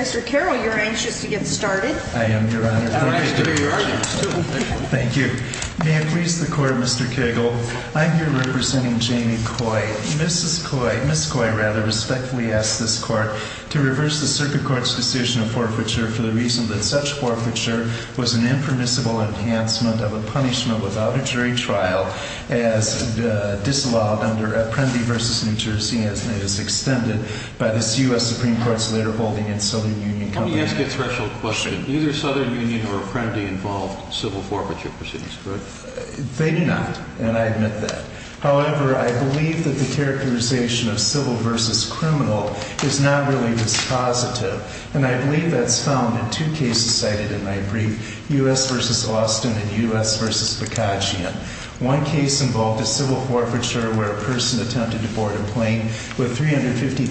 Mr. Carroll, you're anxious to get started. I am your honor. Thank you. May it please the court, Mr. Cagle. I'm here representing Jamie Koy. Mrs. Koy, Ms. Koy rather, respectfully asks this court to reverse the Circuit Court's decision of forfeiture for the reason that such forfeiture was an impermissible enhancement of a punishment without a jury trial as disallowed under Apprendi v. New Jersey and is extended by this U.S. Supreme Court's later holding in Southern Union Company. Let me ask you a special question. Neither Southern Union or Apprendi involved civil forfeiture proceedings, correct? They do not, and I admit that. However, I believe that the characterization of civil versus criminal is not really dispositive, and I believe that's found in two cases cited in my brief, U.S. v. Austin and U.S. v. Bakajian. One case involved a civil forfeiture where a person attempted to board a plane with $350,000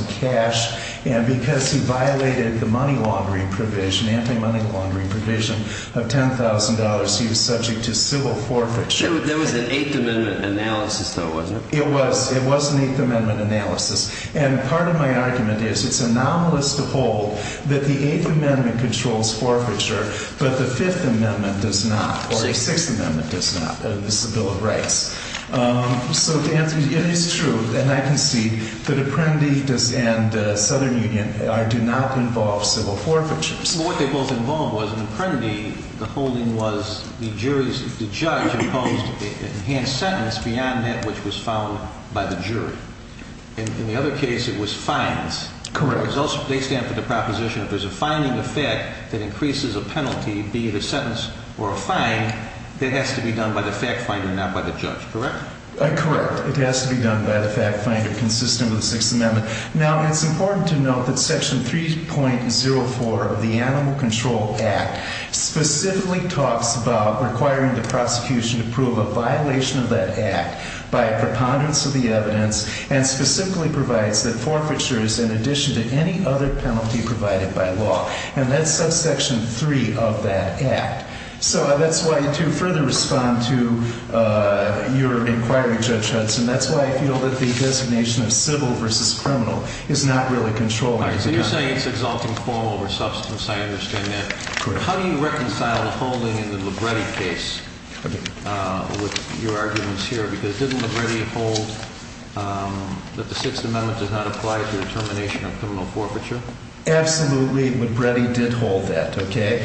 in cash, and because he violated the money laundering provision, anti-money laundering provision of $10,000, he was subject to civil forfeiture. There was an Eighth Amendment analysis, though, wasn't there? It was. It was an Eighth Amendment analysis, and part of my argument is it's anomalous to hold that the Eighth Amendment controls forfeiture, but the Fifth Amendment does not, or the Apprendi and Southern Union do not involve civil forfeitures. What they both involved was, in Apprendi, the holding was the jury's, the judge imposed an enhanced sentence beyond that which was found by the jury. In the other case, it was fines. Correct. They stand for the proposition if there's a fining of fact that increases a penalty, be it a sentence or a fine, that has to be done by the fact finder, not by the judge, correct? Correct. It has to be done by the fact finder consistent with the Sixth Amendment. Now, it's important to note that Section 3.04 of the Animal Control Act specifically talks about requiring the prosecution to prove a violation of that act by a preponderance of the evidence, and specifically provides that forfeitures, in addition to any other penalty provided by law, and that's subsection 3 of that act. So that's why I'd like to further respond to your inquiry, Judge Hudson. That's why I feel that the designation of civil versus criminal is not really controlled. So you're saying it's exalting form over substance. I understand that. How do you reconcile the holding in the Libretti case with your arguments here? Because didn't Libretti hold that the Sixth Amendment does not apply to the termination of criminal forfeiture? Absolutely, Libretti did hold that, okay?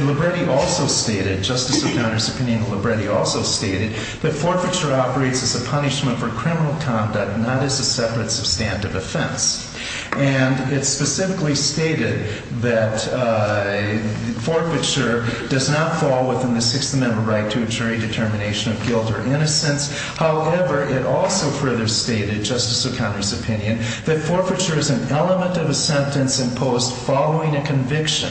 Libretti also stated, Justice O'Connor's opinion, Libretti also stated that forfeiture operates as a punishment for criminal conduct, not as a separate substantive offense. And it specifically stated that forfeiture does not fall within the Sixth Amendment right to a jury determination of guilt or innocence. However, it also further stated, Justice O'Connor's opinion, that forfeiture is an element of a sentence imposed following a conviction.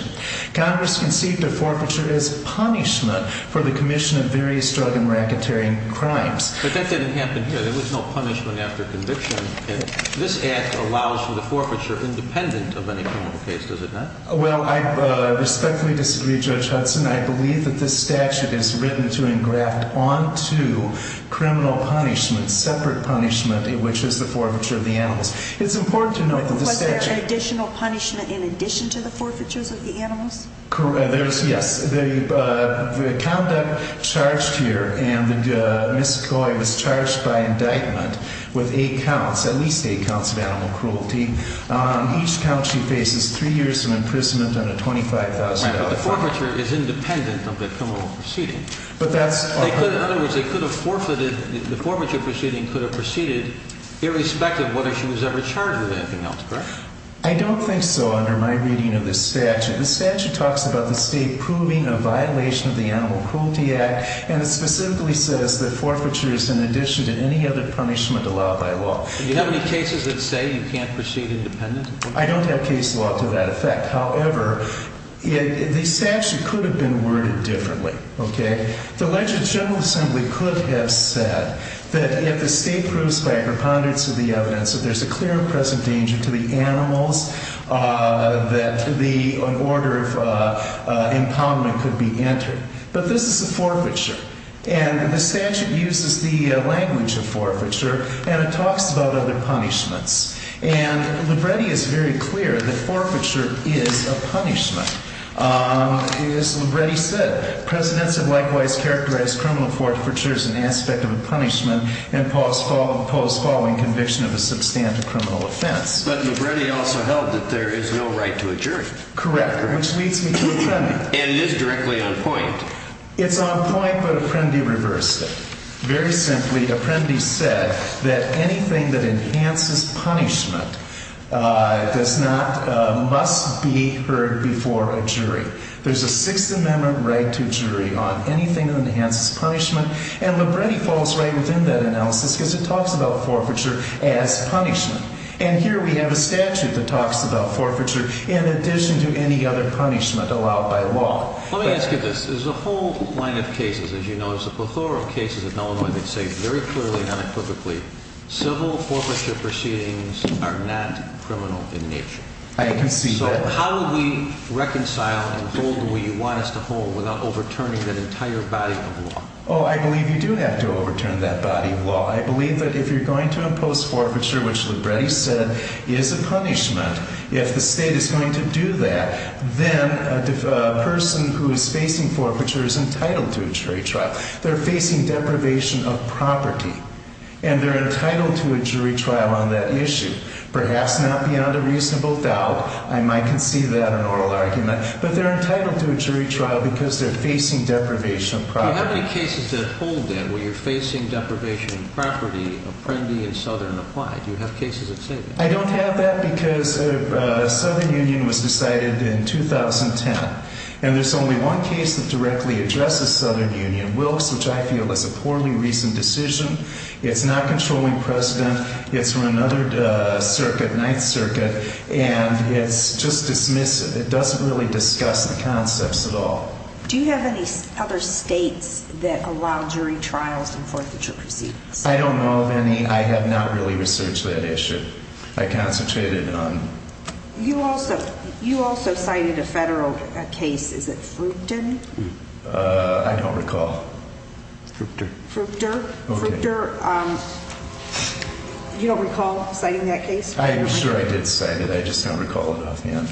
Congress conceived of forfeiture as punishment for the commission of various drug and racketeering crimes. But that didn't happen here. There was no punishment after conviction. This act allows for the forfeiture independent of any criminal case, does it not? Well, I respectfully disagree, Judge Hudson. I believe that this statute is written to engraft onto criminal punishment, separate punishment, which is the forfeiture of the animals. It's important to know... Was there an additional punishment in addition to the forfeitures of the animals? Yes. The conduct charged here, and Ms. Coy was charged by indictment with eight counts, at least eight counts of animal cruelty. On each count, she faces three years of imprisonment and a $25,000 fine. Right, but the forfeiture is independent of the criminal proceeding. But that's... In other words, they could have forfeited, the forfeiture proceeding could have proceeded, irrespective of whether she was ever charged with anything else, correct? I don't think so, under my reading of this statute. The statute talks about the state proving a violation of the Animal Cruelty Act, and it specifically says that forfeiture is in addition to any other punishment allowed by law. Do you have any cases that say you can't proceed independent? I don't have case law to that effect. However, the statute could have been worded differently, okay? The Legislative General Assembly could have said that if the state proves by a preponderance of the evidence that there's a clear and present danger to the animals, that the, an order of impoundment could be entered. But this is a forfeiture, and the statute uses the language of forfeiture, and it talks about other punishments. And Libretti is very clear that forfeiture is a punishment. As Libretti said, presidents have likewise characterized criminal forfeiture as an aspect of a punishment and post following conviction of a substantive criminal offense. But Libretti also held that there is no right to a jury. Correct, which leads me to Apprendi. And it is directly on point. It's on point, but Apprendi reversed it. Very simply, Apprendi said that anything that enhances punishment does not, must be heard before a jury. There's a Sixth Amendment right to jury on anything that enhances punishment, and Libretti falls right within that analysis, because it talks about forfeiture as punishment. And here we have a statute that talks about forfeiture in addition to any other punishment allowed by law. Let me ask you this. There's a whole line of cases, as you know, there's a plethora of cases in Illinois that say very clearly and unequivocally, civil forfeiture proceedings are not criminal in nature. I believe you do have to overturn that body of law. I believe that if you're going to impose forfeiture, which Libretti said is a punishment, if the state is going to do that, then a person who is facing forfeiture is entitled to a jury trial. They're facing deprivation of property, and they're entitled to a jury trial on that issue. Perhaps not beyond a reasonable doubt, I might concede that in an oral argument, but they're entitled to a jury trial because they're facing deprivation of property. Do you have any cases that hold that, where you're facing deprivation of property, Apprendi and Southern apply? Do you have cases that say that? I don't have that because Southern Union was decided in 2010, and there's only one case that directly addresses Southern Union, Wilkes, which I feel is a poorly reasoned decision. It's not controlling precedent. It's from another circuit, Ninth Circuit, and it's just dismissive. It doesn't really discuss the concepts at all. Do you have any other states that allow jury trials in forfeiture proceedings? I don't know of any. I have not really researched that issue. I concentrated on You also cited a federal case. Is it Fructon? I don't recall. Fructor? Fructor. You don't recall citing that case? I'm sure I did cite it. I just don't recall it offhand.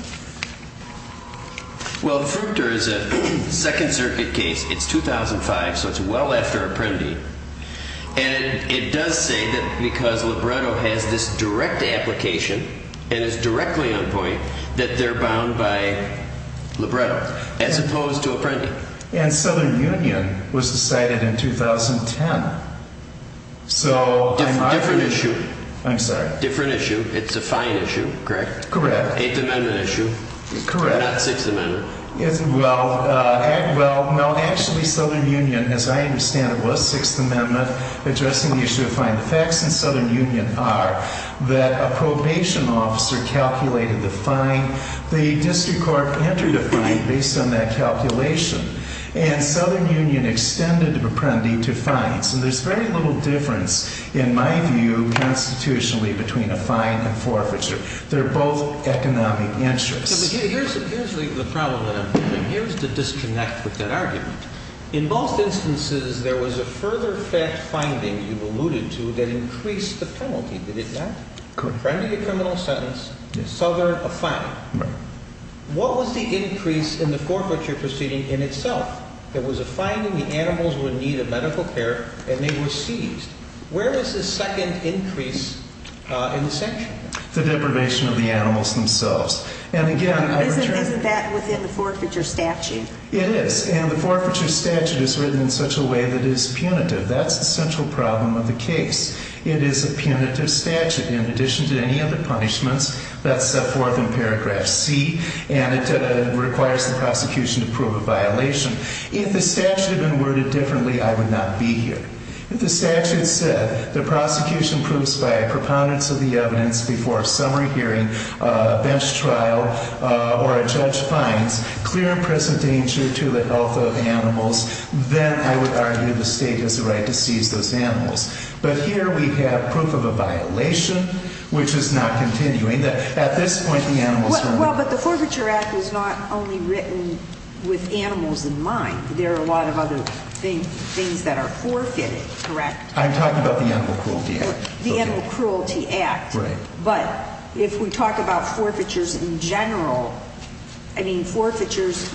Well, Fructor is a Second Circuit case. It's 2005, so it's well after Apprendi. And it does say that because Libretto has this direct application and is directly on point, that they're bound by Libretto, as opposed to Apprendi. And Southern Union was decided in 2010. Different issue. I'm sorry. Different issue. It's a fine issue, correct? Correct. Eighth Amendment issue. Correct. Not Sixth Amendment. Well, actually, Southern Union, as I understand it, was Sixth Amendment, addressing the issue of fine. The facts in Southern Union are that a probation officer calculated the fine. The district court entered a fine based on that calculation. And Southern Union extended Apprendi to fines. And there's very little difference, in my view, constitutionally, between a fine and forfeiture. They're both economic interests. Here's the problem that I'm having. Here's the disconnect with that argument. In both instances, there was a further fact finding you alluded to that increased the penalty. Did it not? Correct. Apprendi to criminal sentence. Southern, a fine. Right. What was the increase in the forfeiture proceeding in itself? There was a finding the animals would need medical care, and they were seized. Where is the second increase in the section? The deprivation of the animals themselves. And again, I return Isn't that within the forfeiture statute? It is. And the forfeiture statute is written in such a way that it is punitive. That's the central problem of the case. It is a punitive statute. In addition to any other punishments, that's set forth in paragraph C, and it requires the prosecution to prove a violation. If the statute had been worded differently, I would not be here. If the statute said the prosecution proves by a preponderance of the evidence before a summary hearing, a bench trial, or a judge finds clear and present danger to the health of animals, then I would argue the state has a right to seize those animals. But here we have proof of a violation, which is not continuing. At this point, the animals were Well, but the Forfeiture Act is not only written with animals in mind. There are a lot of other things that are forfeited, correct? I'm talking about the Animal Cruelty Act. The Animal Cruelty Act. Right. But if we talk about forfeitures in general, I mean, forfeitures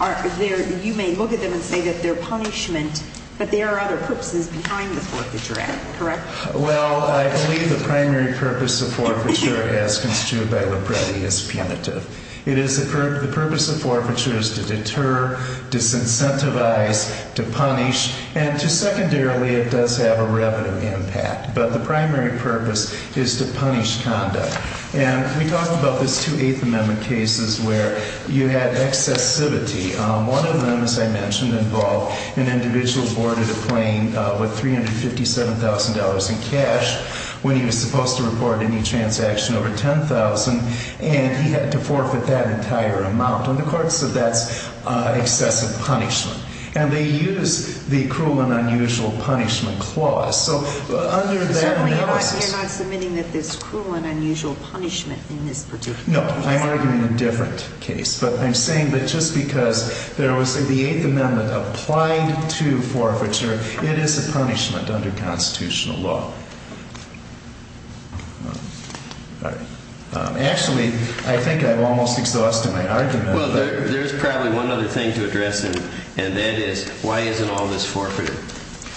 aren't there. You may look at them and say that they're punishment, but there are other purposes behind the Forfeiture Act, correct? Well, I believe the primary purpose of forfeiture, as constituted by Lopretti, is punitive. It is the purpose of forfeiture is to deter, disincentivize, to punish, and to secondarily, it does have a revenue impact. But the primary purpose is to punish conduct. And we talked about those two Eighth Amendment cases where you had excessivity. One of them, as I mentioned, involved an individual who boarded a plane with $357,000 in cash when he was supposed to report any transaction over $10,000, and he had to forfeit that entire amount. And the court said that's excessive punishment. And they use the cruel and unusual punishment clause. So under that You're not submitting that there's cruel and unusual punishment in this particular case? No, I'm arguing a different case. But I'm saying that just because there was the Eighth Amendment applied to forfeiture, it is a punishment under constitutional law. Actually, I think I've almost exhausted my argument. Well, there's probably one other thing to address, and that is, why isn't all this forfeited?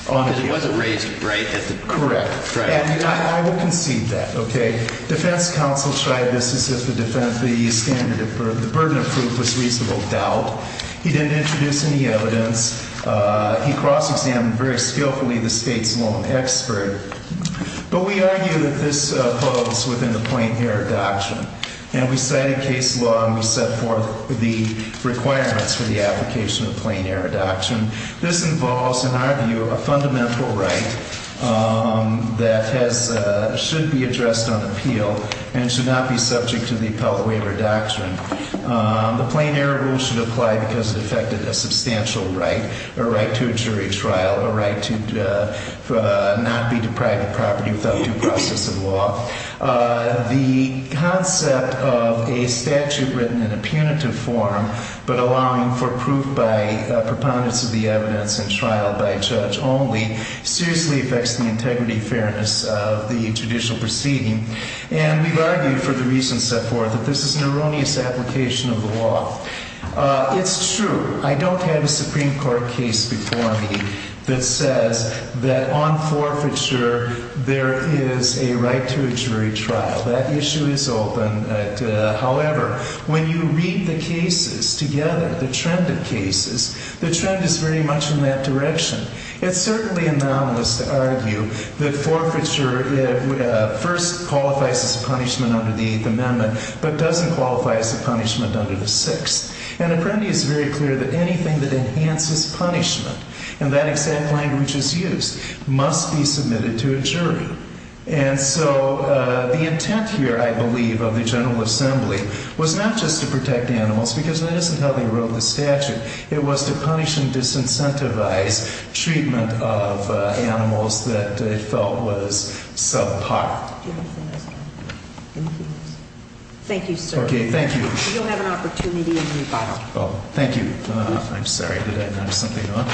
Because it wasn't raised right at the court. Correct. And I would concede that. Okay. Defense counsel tried this as if the standard of the burden of proof was reasonable doubt. He didn't introduce any evidence. He cross-examined very skillfully the State's lone expert. But we argue that this holds within the plain error doctrine. And we cited case law, and we set forth the requirements for the application of the plain error doctrine. This involves, in our view, a fundamental right that should be addressed on appeal and should not be subject to the appellate waiver doctrine. The plain error rule should apply because it affected a substantial right, a right to a jury trial, a right to not be deprived of property without due process of law. The concept of a statute written in a punitive form but allowing for proof by proponents of the evidence in trial by judge only seriously affects the integrity, fairness of the judicial proceeding. And we've argued for the reasons set forth that this is an erroneous application of the law. It's true. I don't have a Supreme Court case before me that says that on forfeiture, there is a right to a jury trial. That issue is open. However, when you read the cases together, the trend of cases, the trend is very much in that direction. It's certainly anomalous to argue that forfeiture first qualifies as a punishment under the Eighth Amendment but doesn't qualify as a punishment under the Sixth. And Apprendi is very clear that anything that enhances punishment, and that exact language is used, must be submitted to a jury. And so the intent here, I believe, of the General Assembly was not just to protect animals because that isn't how they wrote the statute. It was to punish and disincentivize treatment of animals that it felt was subpar. Thank you, sir. Okay, thank you. You'll have an opportunity in rebuttal. Oh, thank you. I'm sorry. Did I nudge something off?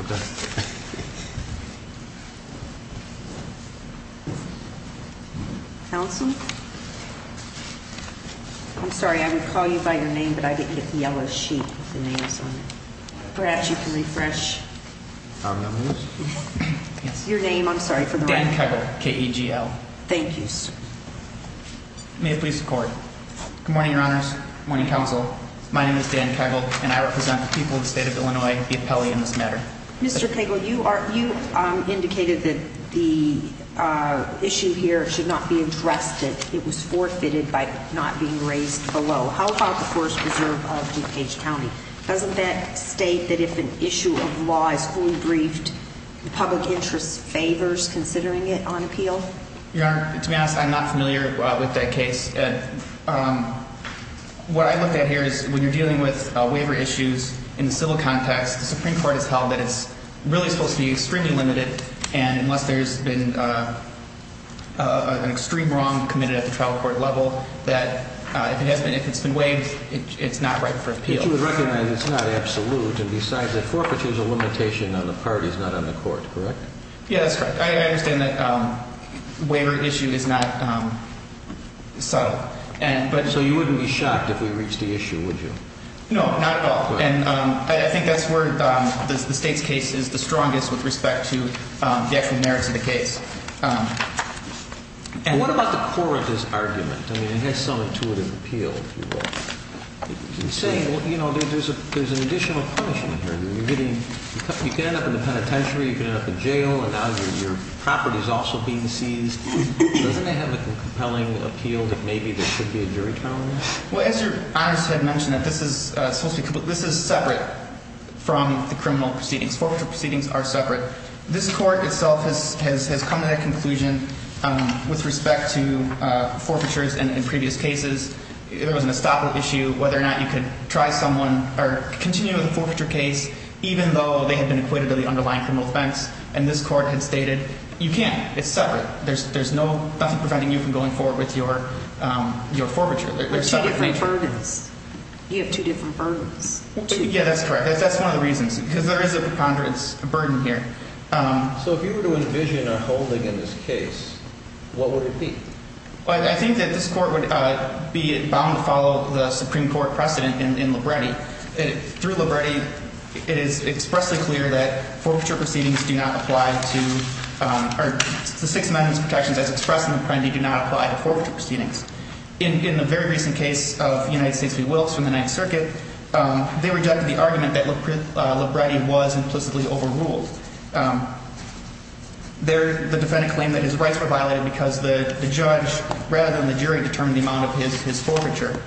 Okay. Counsel? I'm sorry. I would call you by your name, but I didn't get the yellow sheet with the name on it. Perhaps you can refresh. Our numbers? Your name, I'm sorry, for the record. Dan Kegel, K-E-G-L. Thank you, sir. May it please the Court. Good morning, Your Honors. Good morning, Counsel. My name is Dan Kegel, and I represent the people of the state of Illinois, the appellee in this matter. Mr. Kegel, you indicated that the issue here should not be addressed, that it was forfeited by not being raised below. How about the Forest Preserve of DuPage County? Doesn't that state that if an issue of law is fully briefed, the public interest favors considering it on appeal? Your Honor, to be honest, I'm not familiar with that case. What I looked at here is when you're dealing with waiver issues in the civil context, the Supreme Court has held that it's really supposed to be extremely limited, and unless there's been an extreme wrong committed at the trial court level, that if it's been waived, it's not right for appeal. But you would recognize it's not absolute, and besides that forfeiture is a limitation on the parties, not on the court, correct? Yeah, that's correct. I understand that waiver issue is not subtle. So you wouldn't be shocked if we reached the issue, would you? No, not at all. And I think that's where the state's case is the strongest with respect to the actual merits of the case. What about the core of this argument? I mean, it has some intuitive appeal, if you will. You're saying, you know, there's an additional punishment here. You can end up in the penitentiary, you can end up in jail, and now your property is also being seized. Doesn't that have a compelling appeal that maybe there should be a jury trial in this? Well, as Your Honor has mentioned, this is separate from the criminal proceedings. Forfeiture proceedings are separate. This court itself has come to that conclusion with respect to forfeitures in previous cases. There was an estoppel issue, whether or not you could try someone or continue with a forfeiture case, even though they had been acquitted of the underlying criminal offense. And this court had stated, you can't. It's separate. There's nothing preventing you from going forward with your forfeiture. There are two different burdens. You have two different burdens. Yeah, that's correct. That's one of the reasons, because there is a preponderance burden here. So if you were to envision a holding in this case, what would it be? Well, I think that this court would be bound to follow the Supreme Court precedent in Libretti. Through Libretti, it is expressly clear that forfeiture proceedings do not apply to – or the Sixth Amendment protections as expressed in the plenty do not apply to forfeiture They rejected the argument that Libretti was implicitly overruled. The defendant claimed that his rights were violated because the judge, rather than the jury, determined the amount of his forfeiture.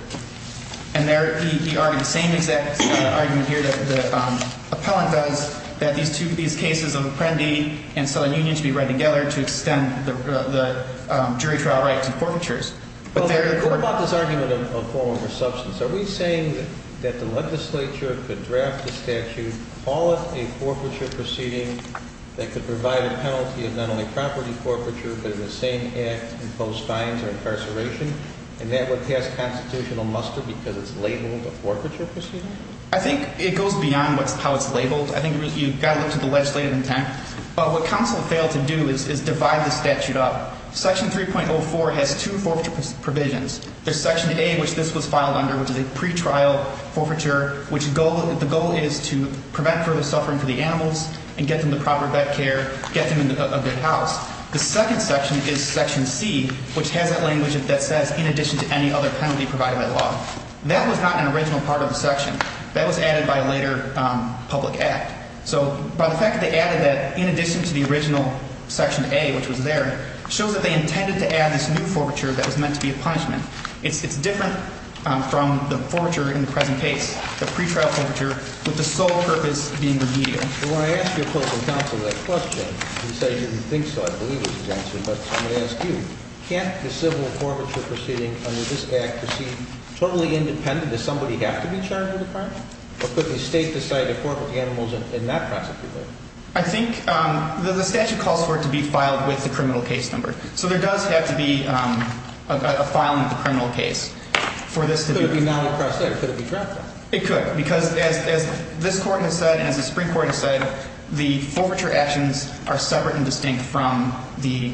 And there, he argued the same exact argument here that the appellant does, that these cases of Apprendi and Southern Union should be read together to extend the jury trial right to forfeitures. What about this argument of form over substance? Are we saying that the legislature could draft the statute, call it a forfeiture proceeding, that could provide a penalty of not only property forfeiture, but in the same act impose fines or incarceration, and that would pass constitutional muster because it's labeled a forfeiture proceeding? I think it goes beyond how it's labeled. I think you've got to look to the legislative intent. But what counsel failed to do is divide the statute up. Section 3.04 has two forfeiture provisions. There's Section A, which this was filed under, which is a pretrial forfeiture, which the goal is to prevent further suffering for the animals and get them the proper vet care, get them a good house. The second section is Section C, which has that language that says, in addition to any other penalty provided by law. That was not an original part of the section. That was added by a later public act. So by the fact that they added that, in addition to the original Section A, which was there, shows that they intended to add this new forfeiture that was meant to be a punishment. It's different from the forfeiture in the present case, the pretrial forfeiture, with the sole purpose being remedial. Well, when I asked your opposing counsel that question, he said he didn't think so, I believe was his answer. But I'm going to ask you, can't the civil forfeiture proceeding under this act proceed totally independent? Does somebody have to be charged with the crime? Or could the State decide to forfeit the animals and not prosecute them? I think the statute calls for it to be filed with the criminal case number. So there does have to be a filing of the criminal case for this to be referred to. Could it be non-encrusted, or could it be drafted? It could. Because as this Court has said, and as the Supreme Court has said, the forfeiture actions are separate and distinct from the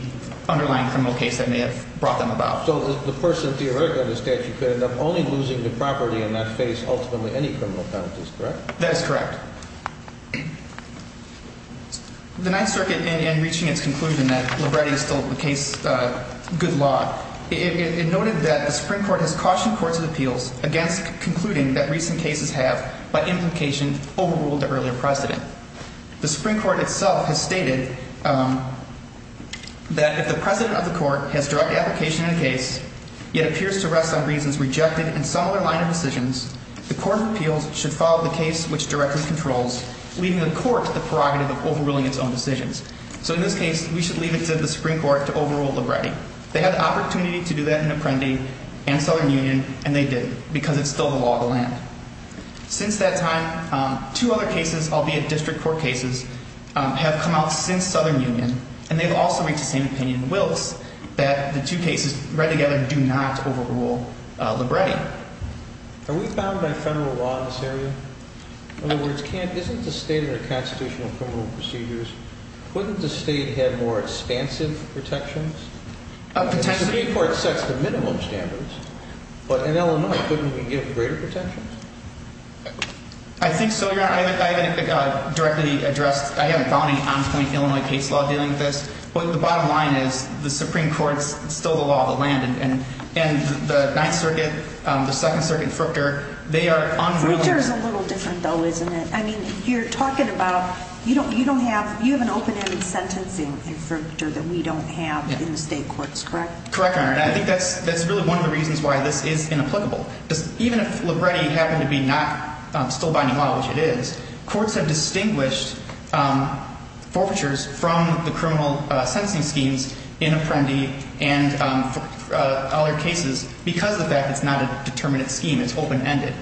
underlying criminal case that may have brought them about. So the person theoretically under statute could end up only losing the property and not face ultimately any criminal penalties, correct? That is correct. The Ninth Circuit, in reaching its conclusion that Libretti stole the case under good law, it noted that the Supreme Court has cautioned courts of appeals against concluding that recent cases have, by implication, overruled the earlier precedent. The Supreme Court itself has stated that if the precedent of the court has direct application in a case, yet appears to rest on reasons rejected in some other line of decisions, the court of appeals should follow the case which directly controls, leaving the court the prerogative of overruling its own decisions. So in this case, we should leave it to the Supreme Court to overrule Libretti. They had the opportunity to do that in Apprendi and Southern Union, and they did, because it's still the law of the land. Since that time, two other cases, albeit district court cases, have come out since Southern Union, and they've also reached the same opinion in Wilkes that the two cases read together do not overrule Libretti. Are we bound by federal law in this area? In other words, Kent, isn't the state under constitutional criminal procedures, wouldn't the state have more expansive protections? Potentially. The Supreme Court sets the minimum standards, but in Illinois, couldn't we give greater protections? I think so, Your Honor. I haven't directly addressed, I haven't found any on-point Illinois case law dealing with this, but the bottom line is the Supreme Court's still the law of the land, and the Ninth Circuit, the Second Circuit, Fruchter, they are unruly. Fruchter is a little different, though, isn't it? I mean, you're talking about, you don't have, you have an open-ended sentencing in Fruchter that we don't have in the state courts, correct? Correct, Your Honor. And I think that's really one of the reasons why this is inapplicable. Because even if Libretti happened to be not still binding law, which it is, courts have distinguished forfeitures from the criminal sentencing schemes in Apprendi and other cases because of the fact that it's not a determinate scheme, it's open-ended.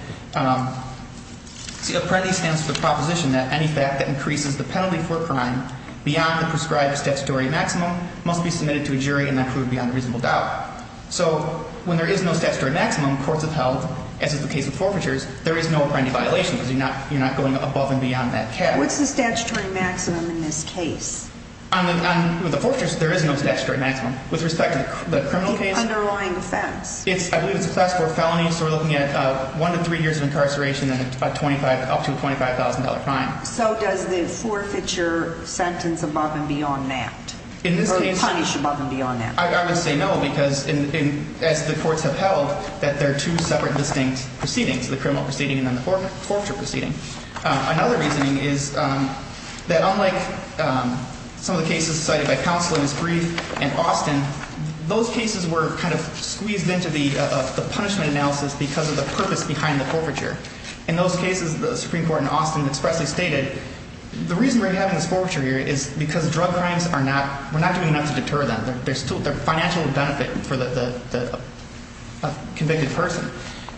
See, Apprendi stands for the proposition that any fact that increases the penalty for a crime beyond the prescribed statutory maximum must be submitted to a jury and not proved beyond reasonable doubt. So when there is no statutory maximum, courts have held, as is the case with forfeitures, there is no Apprendi violation because you're not going above and beyond that cap. What's the statutory maximum in this case? On the forfeitures, there is no statutory maximum. With respect to the criminal case? Underlying offense. I believe it's a class 4 felony, so we're looking at one to three years of incarceration and up to a $25,000 crime. So does the forfeiture sentence above and beyond that? Or punish above and beyond that? I would say no because, as the courts have held, that there are two separate distinct proceedings, the criminal proceeding and then the forfeiture proceeding. Another reasoning is that unlike some of the cases cited by counsel in this brief and Austin, those cases were kind of squeezed into the punishment analysis because of the purpose behind the forfeiture. In those cases, the Supreme Court in Austin expressly stated, the reason we're having this forfeiture here is because drug crimes are not, we're not doing enough to deter them. There's still a financial benefit for the convicted person.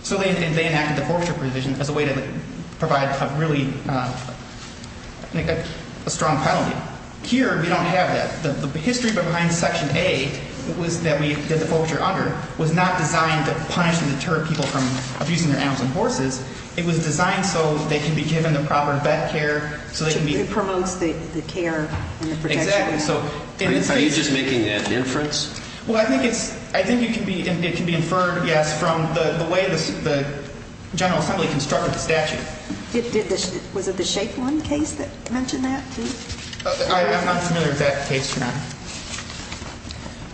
So they enacted the forfeiture provision as a way to provide a really strong penalty. Here, we don't have that. The history behind Section A, that we did the forfeiture under, was not designed to punish and deter people from abusing their animals and horses. It was designed so they could be given the proper vet care. It promotes the care and the protection. Exactly. Are you just making that inference? Well, I think it's, I think you can be, it can be inferred, yes, from the way the General Assembly constructed the statute. Was it the Shape 1 case that mentioned that too? I'm not familiar with that case, Your Honor.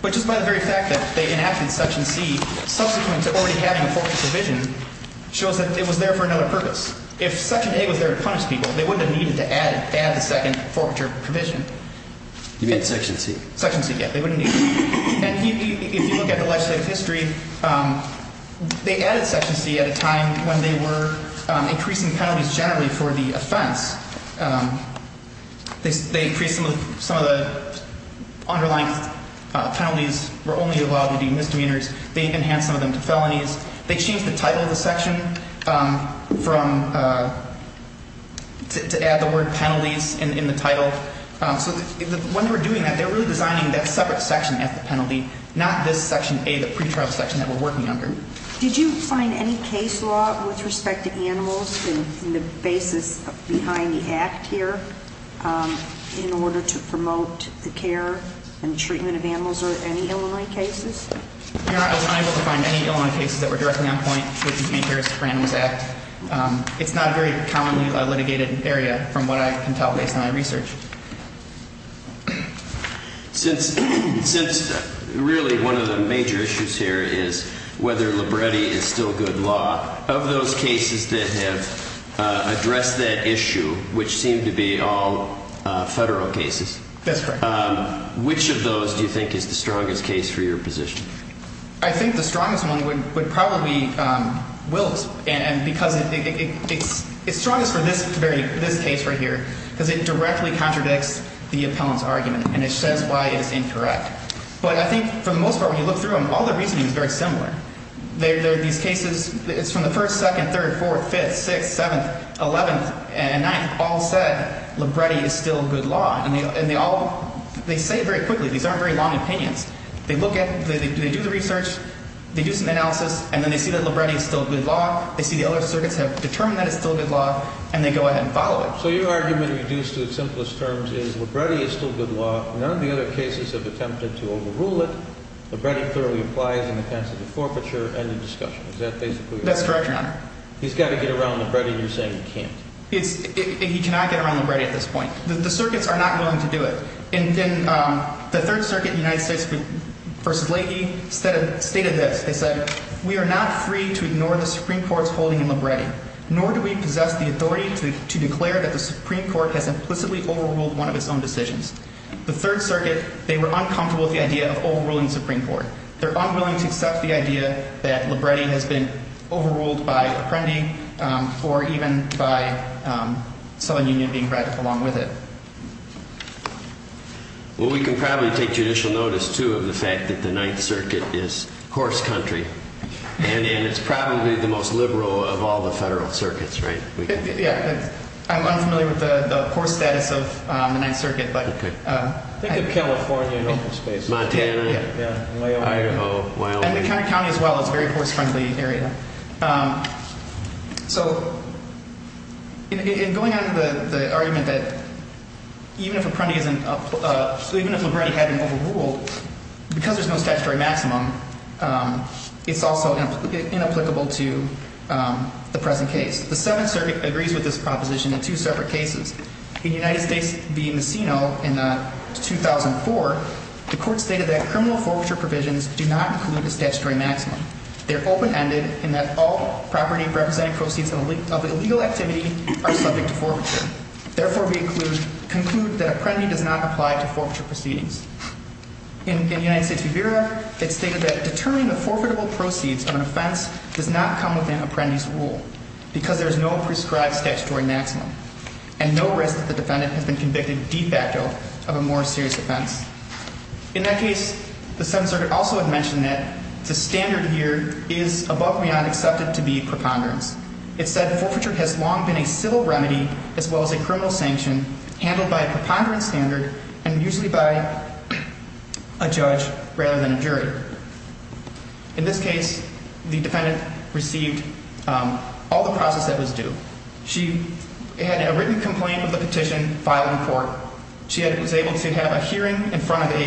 But just by the very fact that they enacted Section C, subsequent to already having a forfeiture provision, shows that it was there for another purpose. If Section A was there to punish people, they wouldn't have needed to add the second forfeiture provision. You mean Section C? Section C, yeah. They wouldn't need it. And if you look at the legislative history, they added Section C at a time when they were they increased some of the underlying penalties were only allowed to be misdemeanors. They enhanced some of them to felonies. They changed the title of the section from, to add the word penalties in the title. So when they were doing that, they were really designing that separate section at the penalty, not this Section A, the pretrial section that we're working under. Did you find any case law with respect to animals in the basis behind the Act here in order to promote the care and treatment of animals or any Illinois cases? Your Honor, I was unable to find any Illinois cases that were directly on point with the Cares for Animals Act. It's not a very commonly litigated area from what I can tell based on my research. Since really one of the major issues here is whether Libretti is still good law, of those cases that have addressed that issue, which seem to be all federal cases, which of those do you think is the strongest case for your position? I think the strongest one would probably be Willis. And because it's strongest for this case right here because it directly contradicts the appellant's argument and it says why it is incorrect. But I think for the most part when you look through them, all the reasoning is very similar. These cases, it's from the first, second, third, fourth, fifth, sixth, seventh, eleventh, and ninth all said Libretti is still good law. And they all, they say it very quickly. These aren't very long opinions. They look at, they do the research, they do some analysis, and then they see that Libretti is still good law. They see the other circuits have determined that it's still good law, and they go ahead and follow it. So your argument, reduced to the simplest terms, is Libretti is still good law. None of the other cases have attempted to overrule it. Libretti thoroughly applies in the defense of the forfeiture and the discussion. Is that basically what you're saying? That's correct, Your Honor. He's got to get around Libretti and you're saying he can't. He cannot get around Libretti at this point. The circuits are not going to do it. And then the Third Circuit in the United States v. Leahy stated this. They said, we are not free to ignore the Supreme Court's holding in Libretti, nor do we possess the authority to declare that the Supreme Court has implicitly overruled one of its own decisions. The Third Circuit, they were uncomfortable with the idea of overruling the Supreme Court. They're unwilling to accept the idea that Libretti has been overruled by Apprendi or even by Southern Union being brought along with it. Well, we can probably take judicial notice, too, of the fact that the Ninth Circuit is horse country. And it's probably the most liberal of all the federal circuits, right? Yeah. I'm unfamiliar with the horse status of the Ninth Circuit. Think of California in open space. Montana. Yeah. Idaho. Wyoming. And the county as well. It's a very horse-friendly area. So in going on to the argument that even if Libretti hadn't overruled, because there's no statutory maximum, it's also inapplicable to the present case. The Seventh Circuit agrees with this proposition in two separate cases. In the United States v. Messina in 2004, the court stated that criminal forfeiture provisions do not include a statutory maximum. They're open-ended in that all property representing proceeds of illegal activity are subject to forfeiture. Therefore, we conclude that Apprendi does not apply to forfeiture proceedings. In the United States v. Vera, it's stated that determining the forfeitable proceeds of an offense does not come within Apprendi's rule because there is no prescribed statutory maximum. And no risk that the defendant has been convicted de facto of a more serious offense. In that case, the Seventh Circuit also had mentioned that the standard here is above and beyond accepted to be preponderance. It said forfeiture has long been a civil remedy as well as a criminal sanction handled by a preponderance standard and usually by a judge rather than a jury. In this case, the defendant received all the process that was due. She had a written complaint with the petition filed in court. She was able to have a hearing in front of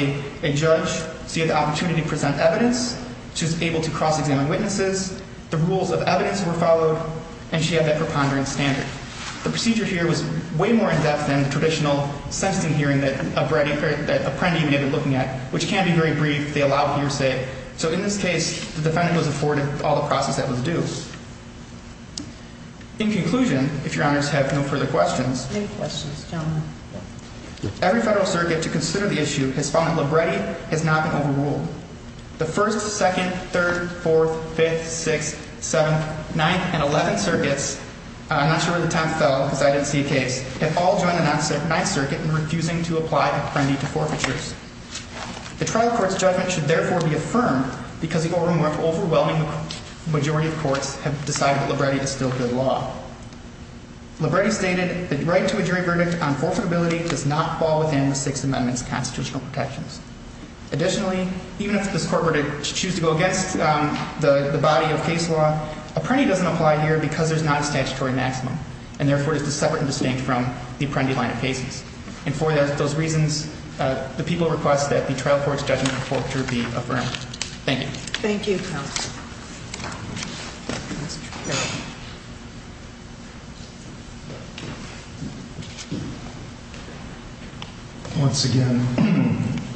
a judge. She had the opportunity to present evidence. She was able to cross-examine witnesses. The rules of evidence were followed, and she had that preponderance standard. The procedure here was way more in-depth than the traditional sentencing hearing that Apprendi may have been looking at, which can be very brief. They allow hearsay. So in this case, the defendant was afforded all the process that was due. In conclusion, if your honors have no further questions. No questions, gentlemen. Every federal circuit to consider the issue has found that Libretti has not been overruled. The First, Second, Third, Fourth, Fifth, Sixth, Seventh, Ninth, and Eleventh Circuits, I'm not sure where the time fell because I didn't see a case, have all joined the Ninth Circuit in refusing to apply Apprendi to forfeitures. The trial court's judgment should therefore be affirmed because the overwhelming majority of courts have decided that Libretti is still good law. Libretti stated that writing to a jury verdict on forfeitability does not fall within the Sixth Amendment's constitutional protections. Additionally, even if this court were to choose to go against the body of case law, Apprendi doesn't apply here because there's not a statutory maximum. And therefore, it is separate and distinct from the Apprendi line of cases. And for those reasons, the people request that the trial court's judgment forfeiture be affirmed. Thank you. Thank you. Once again,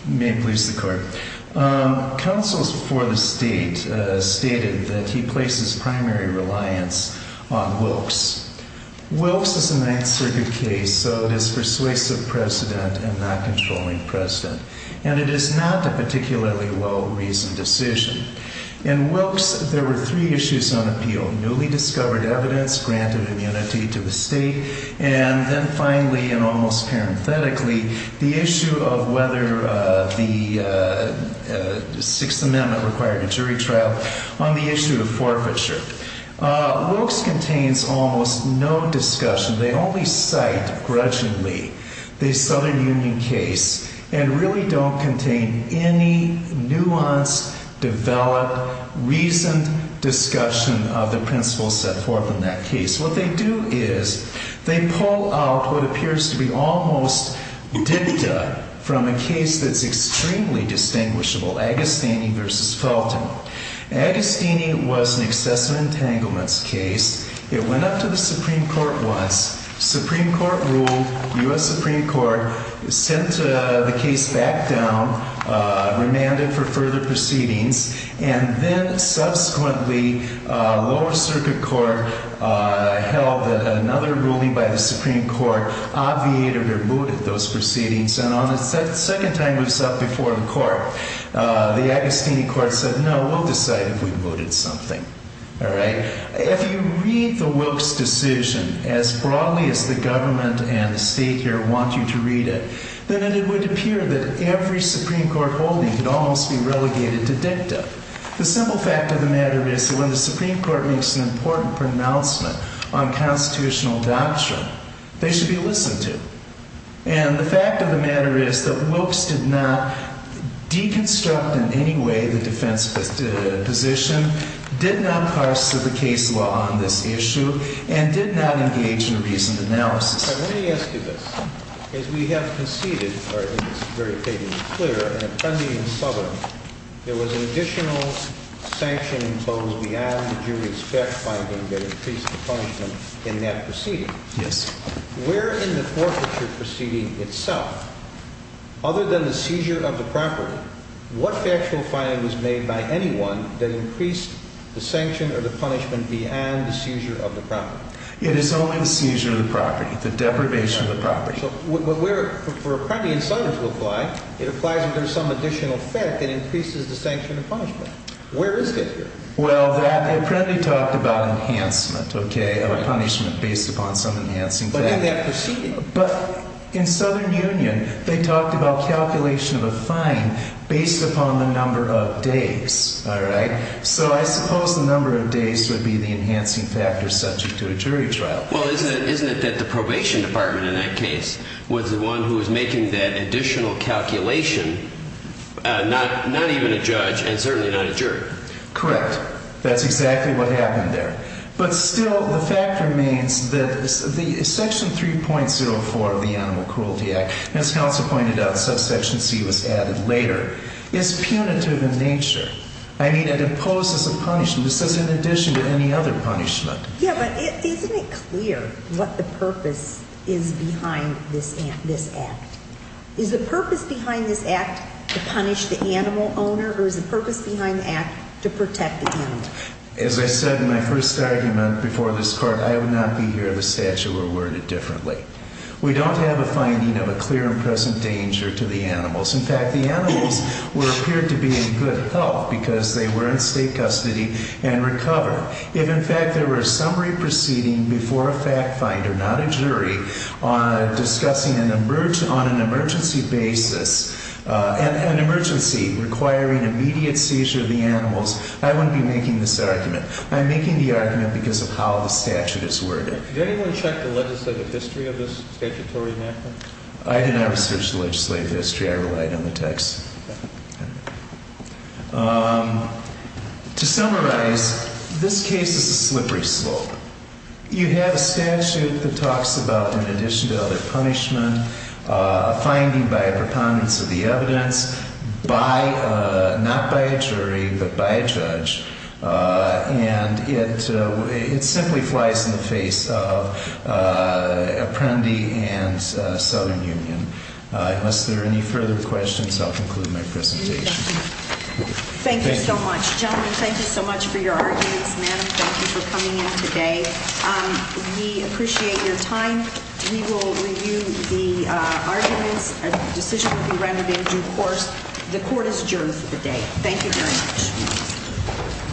may it please the court. Councils for the state stated that he places primary reliance on Wilkes. Wilkes is a Ninth Circuit case, so it is persuasive precedent and not controlling precedent. And it is not a particularly well-reasoned decision. In Wilkes, there were three issues on appeal. Newly discovered evidence granted immunity to the state. And then finally, and almost parenthetically, the issue of whether the Sixth Amendment required a jury trial on the issue of forfeiture. Wilkes contains almost no discussion. They only cite grudgingly the Southern Union case and really don't contain any nuanced, developed, reasoned discussion of the principles set forth in that case. What they do is they pull out what appears to be almost dicta from a case that's extremely distinguishable, Agostini v. Felton. Agostini was an excessive entanglements case. It went up to the Supreme Court once. Supreme Court ruled. U.S. Supreme Court sent the case back down, remanded for further proceedings. And then subsequently, lower circuit court held that another ruling by the Supreme Court obviated or booted those proceedings. And on the second time it was up before the court, the Agostini court said, no, we'll decide if we booted something, all right? If you read the Wilkes decision as broadly as the government and the state here want you to read it, then it would appear that every Supreme Court holding could almost be relegated to dicta. The simple fact of the matter is that when the Supreme Court makes an important pronouncement on constitutional doctrine, they should be listened to. And the fact of the matter is that Wilkes did not deconstruct in any way the defense position, did not parse the case law on this issue, and did not engage in a recent analysis. Let me ask you this. As we have conceded, or at least it's very vaguely clear, in a pending subpoena, there was an additional sanction imposed beyond the jury's best finding that increased the punishment in that proceeding. Yes. Where in the forfeiture proceeding itself, other than the seizure of the property, what factual finding was made by anyone that increased the sanction or the punishment beyond the seizure of the property? It is only the seizure of the property, the deprivation of the property. So where, for a pending subpoena to apply, it applies if there's some additional fact that increases the sanction or punishment. Where is it? Well, that apprendee talked about enhancement, okay, of a punishment based upon some enhancing factor. But in that proceeding? But in Southern Union, they talked about calculation of a fine based upon the number of days, all right? So I suppose the number of days would be the enhancing factor subject to a jury trial. Well, isn't it that the probation department in that case was the one who was making that additional calculation, not even a judge and certainly not a jury? Correct. That's exactly what happened there. But still, the fact remains that Section 3.04 of the Animal Cruelty Act, as Counsel pointed out, subsection C was added later, is punitive in nature. I mean, it imposes a punishment. This is in addition to any other punishment. Yeah, but isn't it clear what the purpose is behind this act? Is the purpose behind this act to punish the animal owner or is the purpose behind the act to protect the animal? As I said in my first argument before this Court, I would not be here if the statute were worded differently. We don't have a finding of a clear and present danger to the animals. In fact, the animals were appeared to be in good health because they were in state custody and recovered. If, in fact, there were a summary proceeding before a fact finder, not a jury, discussing on an emergency basis an emergency requiring immediate seizure of the animals, I wouldn't be making this argument. I'm making the argument because of how the statute is worded. Did anyone check the legislative history of this statutory enactment? I did not research the legislative history. I relied on the text. To summarize, this case is a slippery slope. You have a statute that talks about, in addition to other punishment, a finding by a preponderance of the evidence, not by a jury but by a judge, and it simply flies in the face of Apprendi and Southern Union. Unless there are any further questions, I'll conclude my presentation. Thank you so much. Gentlemen, thank you so much for your arguments. Madam, thank you for coming in today. We appreciate your time. We will review the arguments. A decision will be rendered in due course. The Court is adjourned for the day. Thank you very much.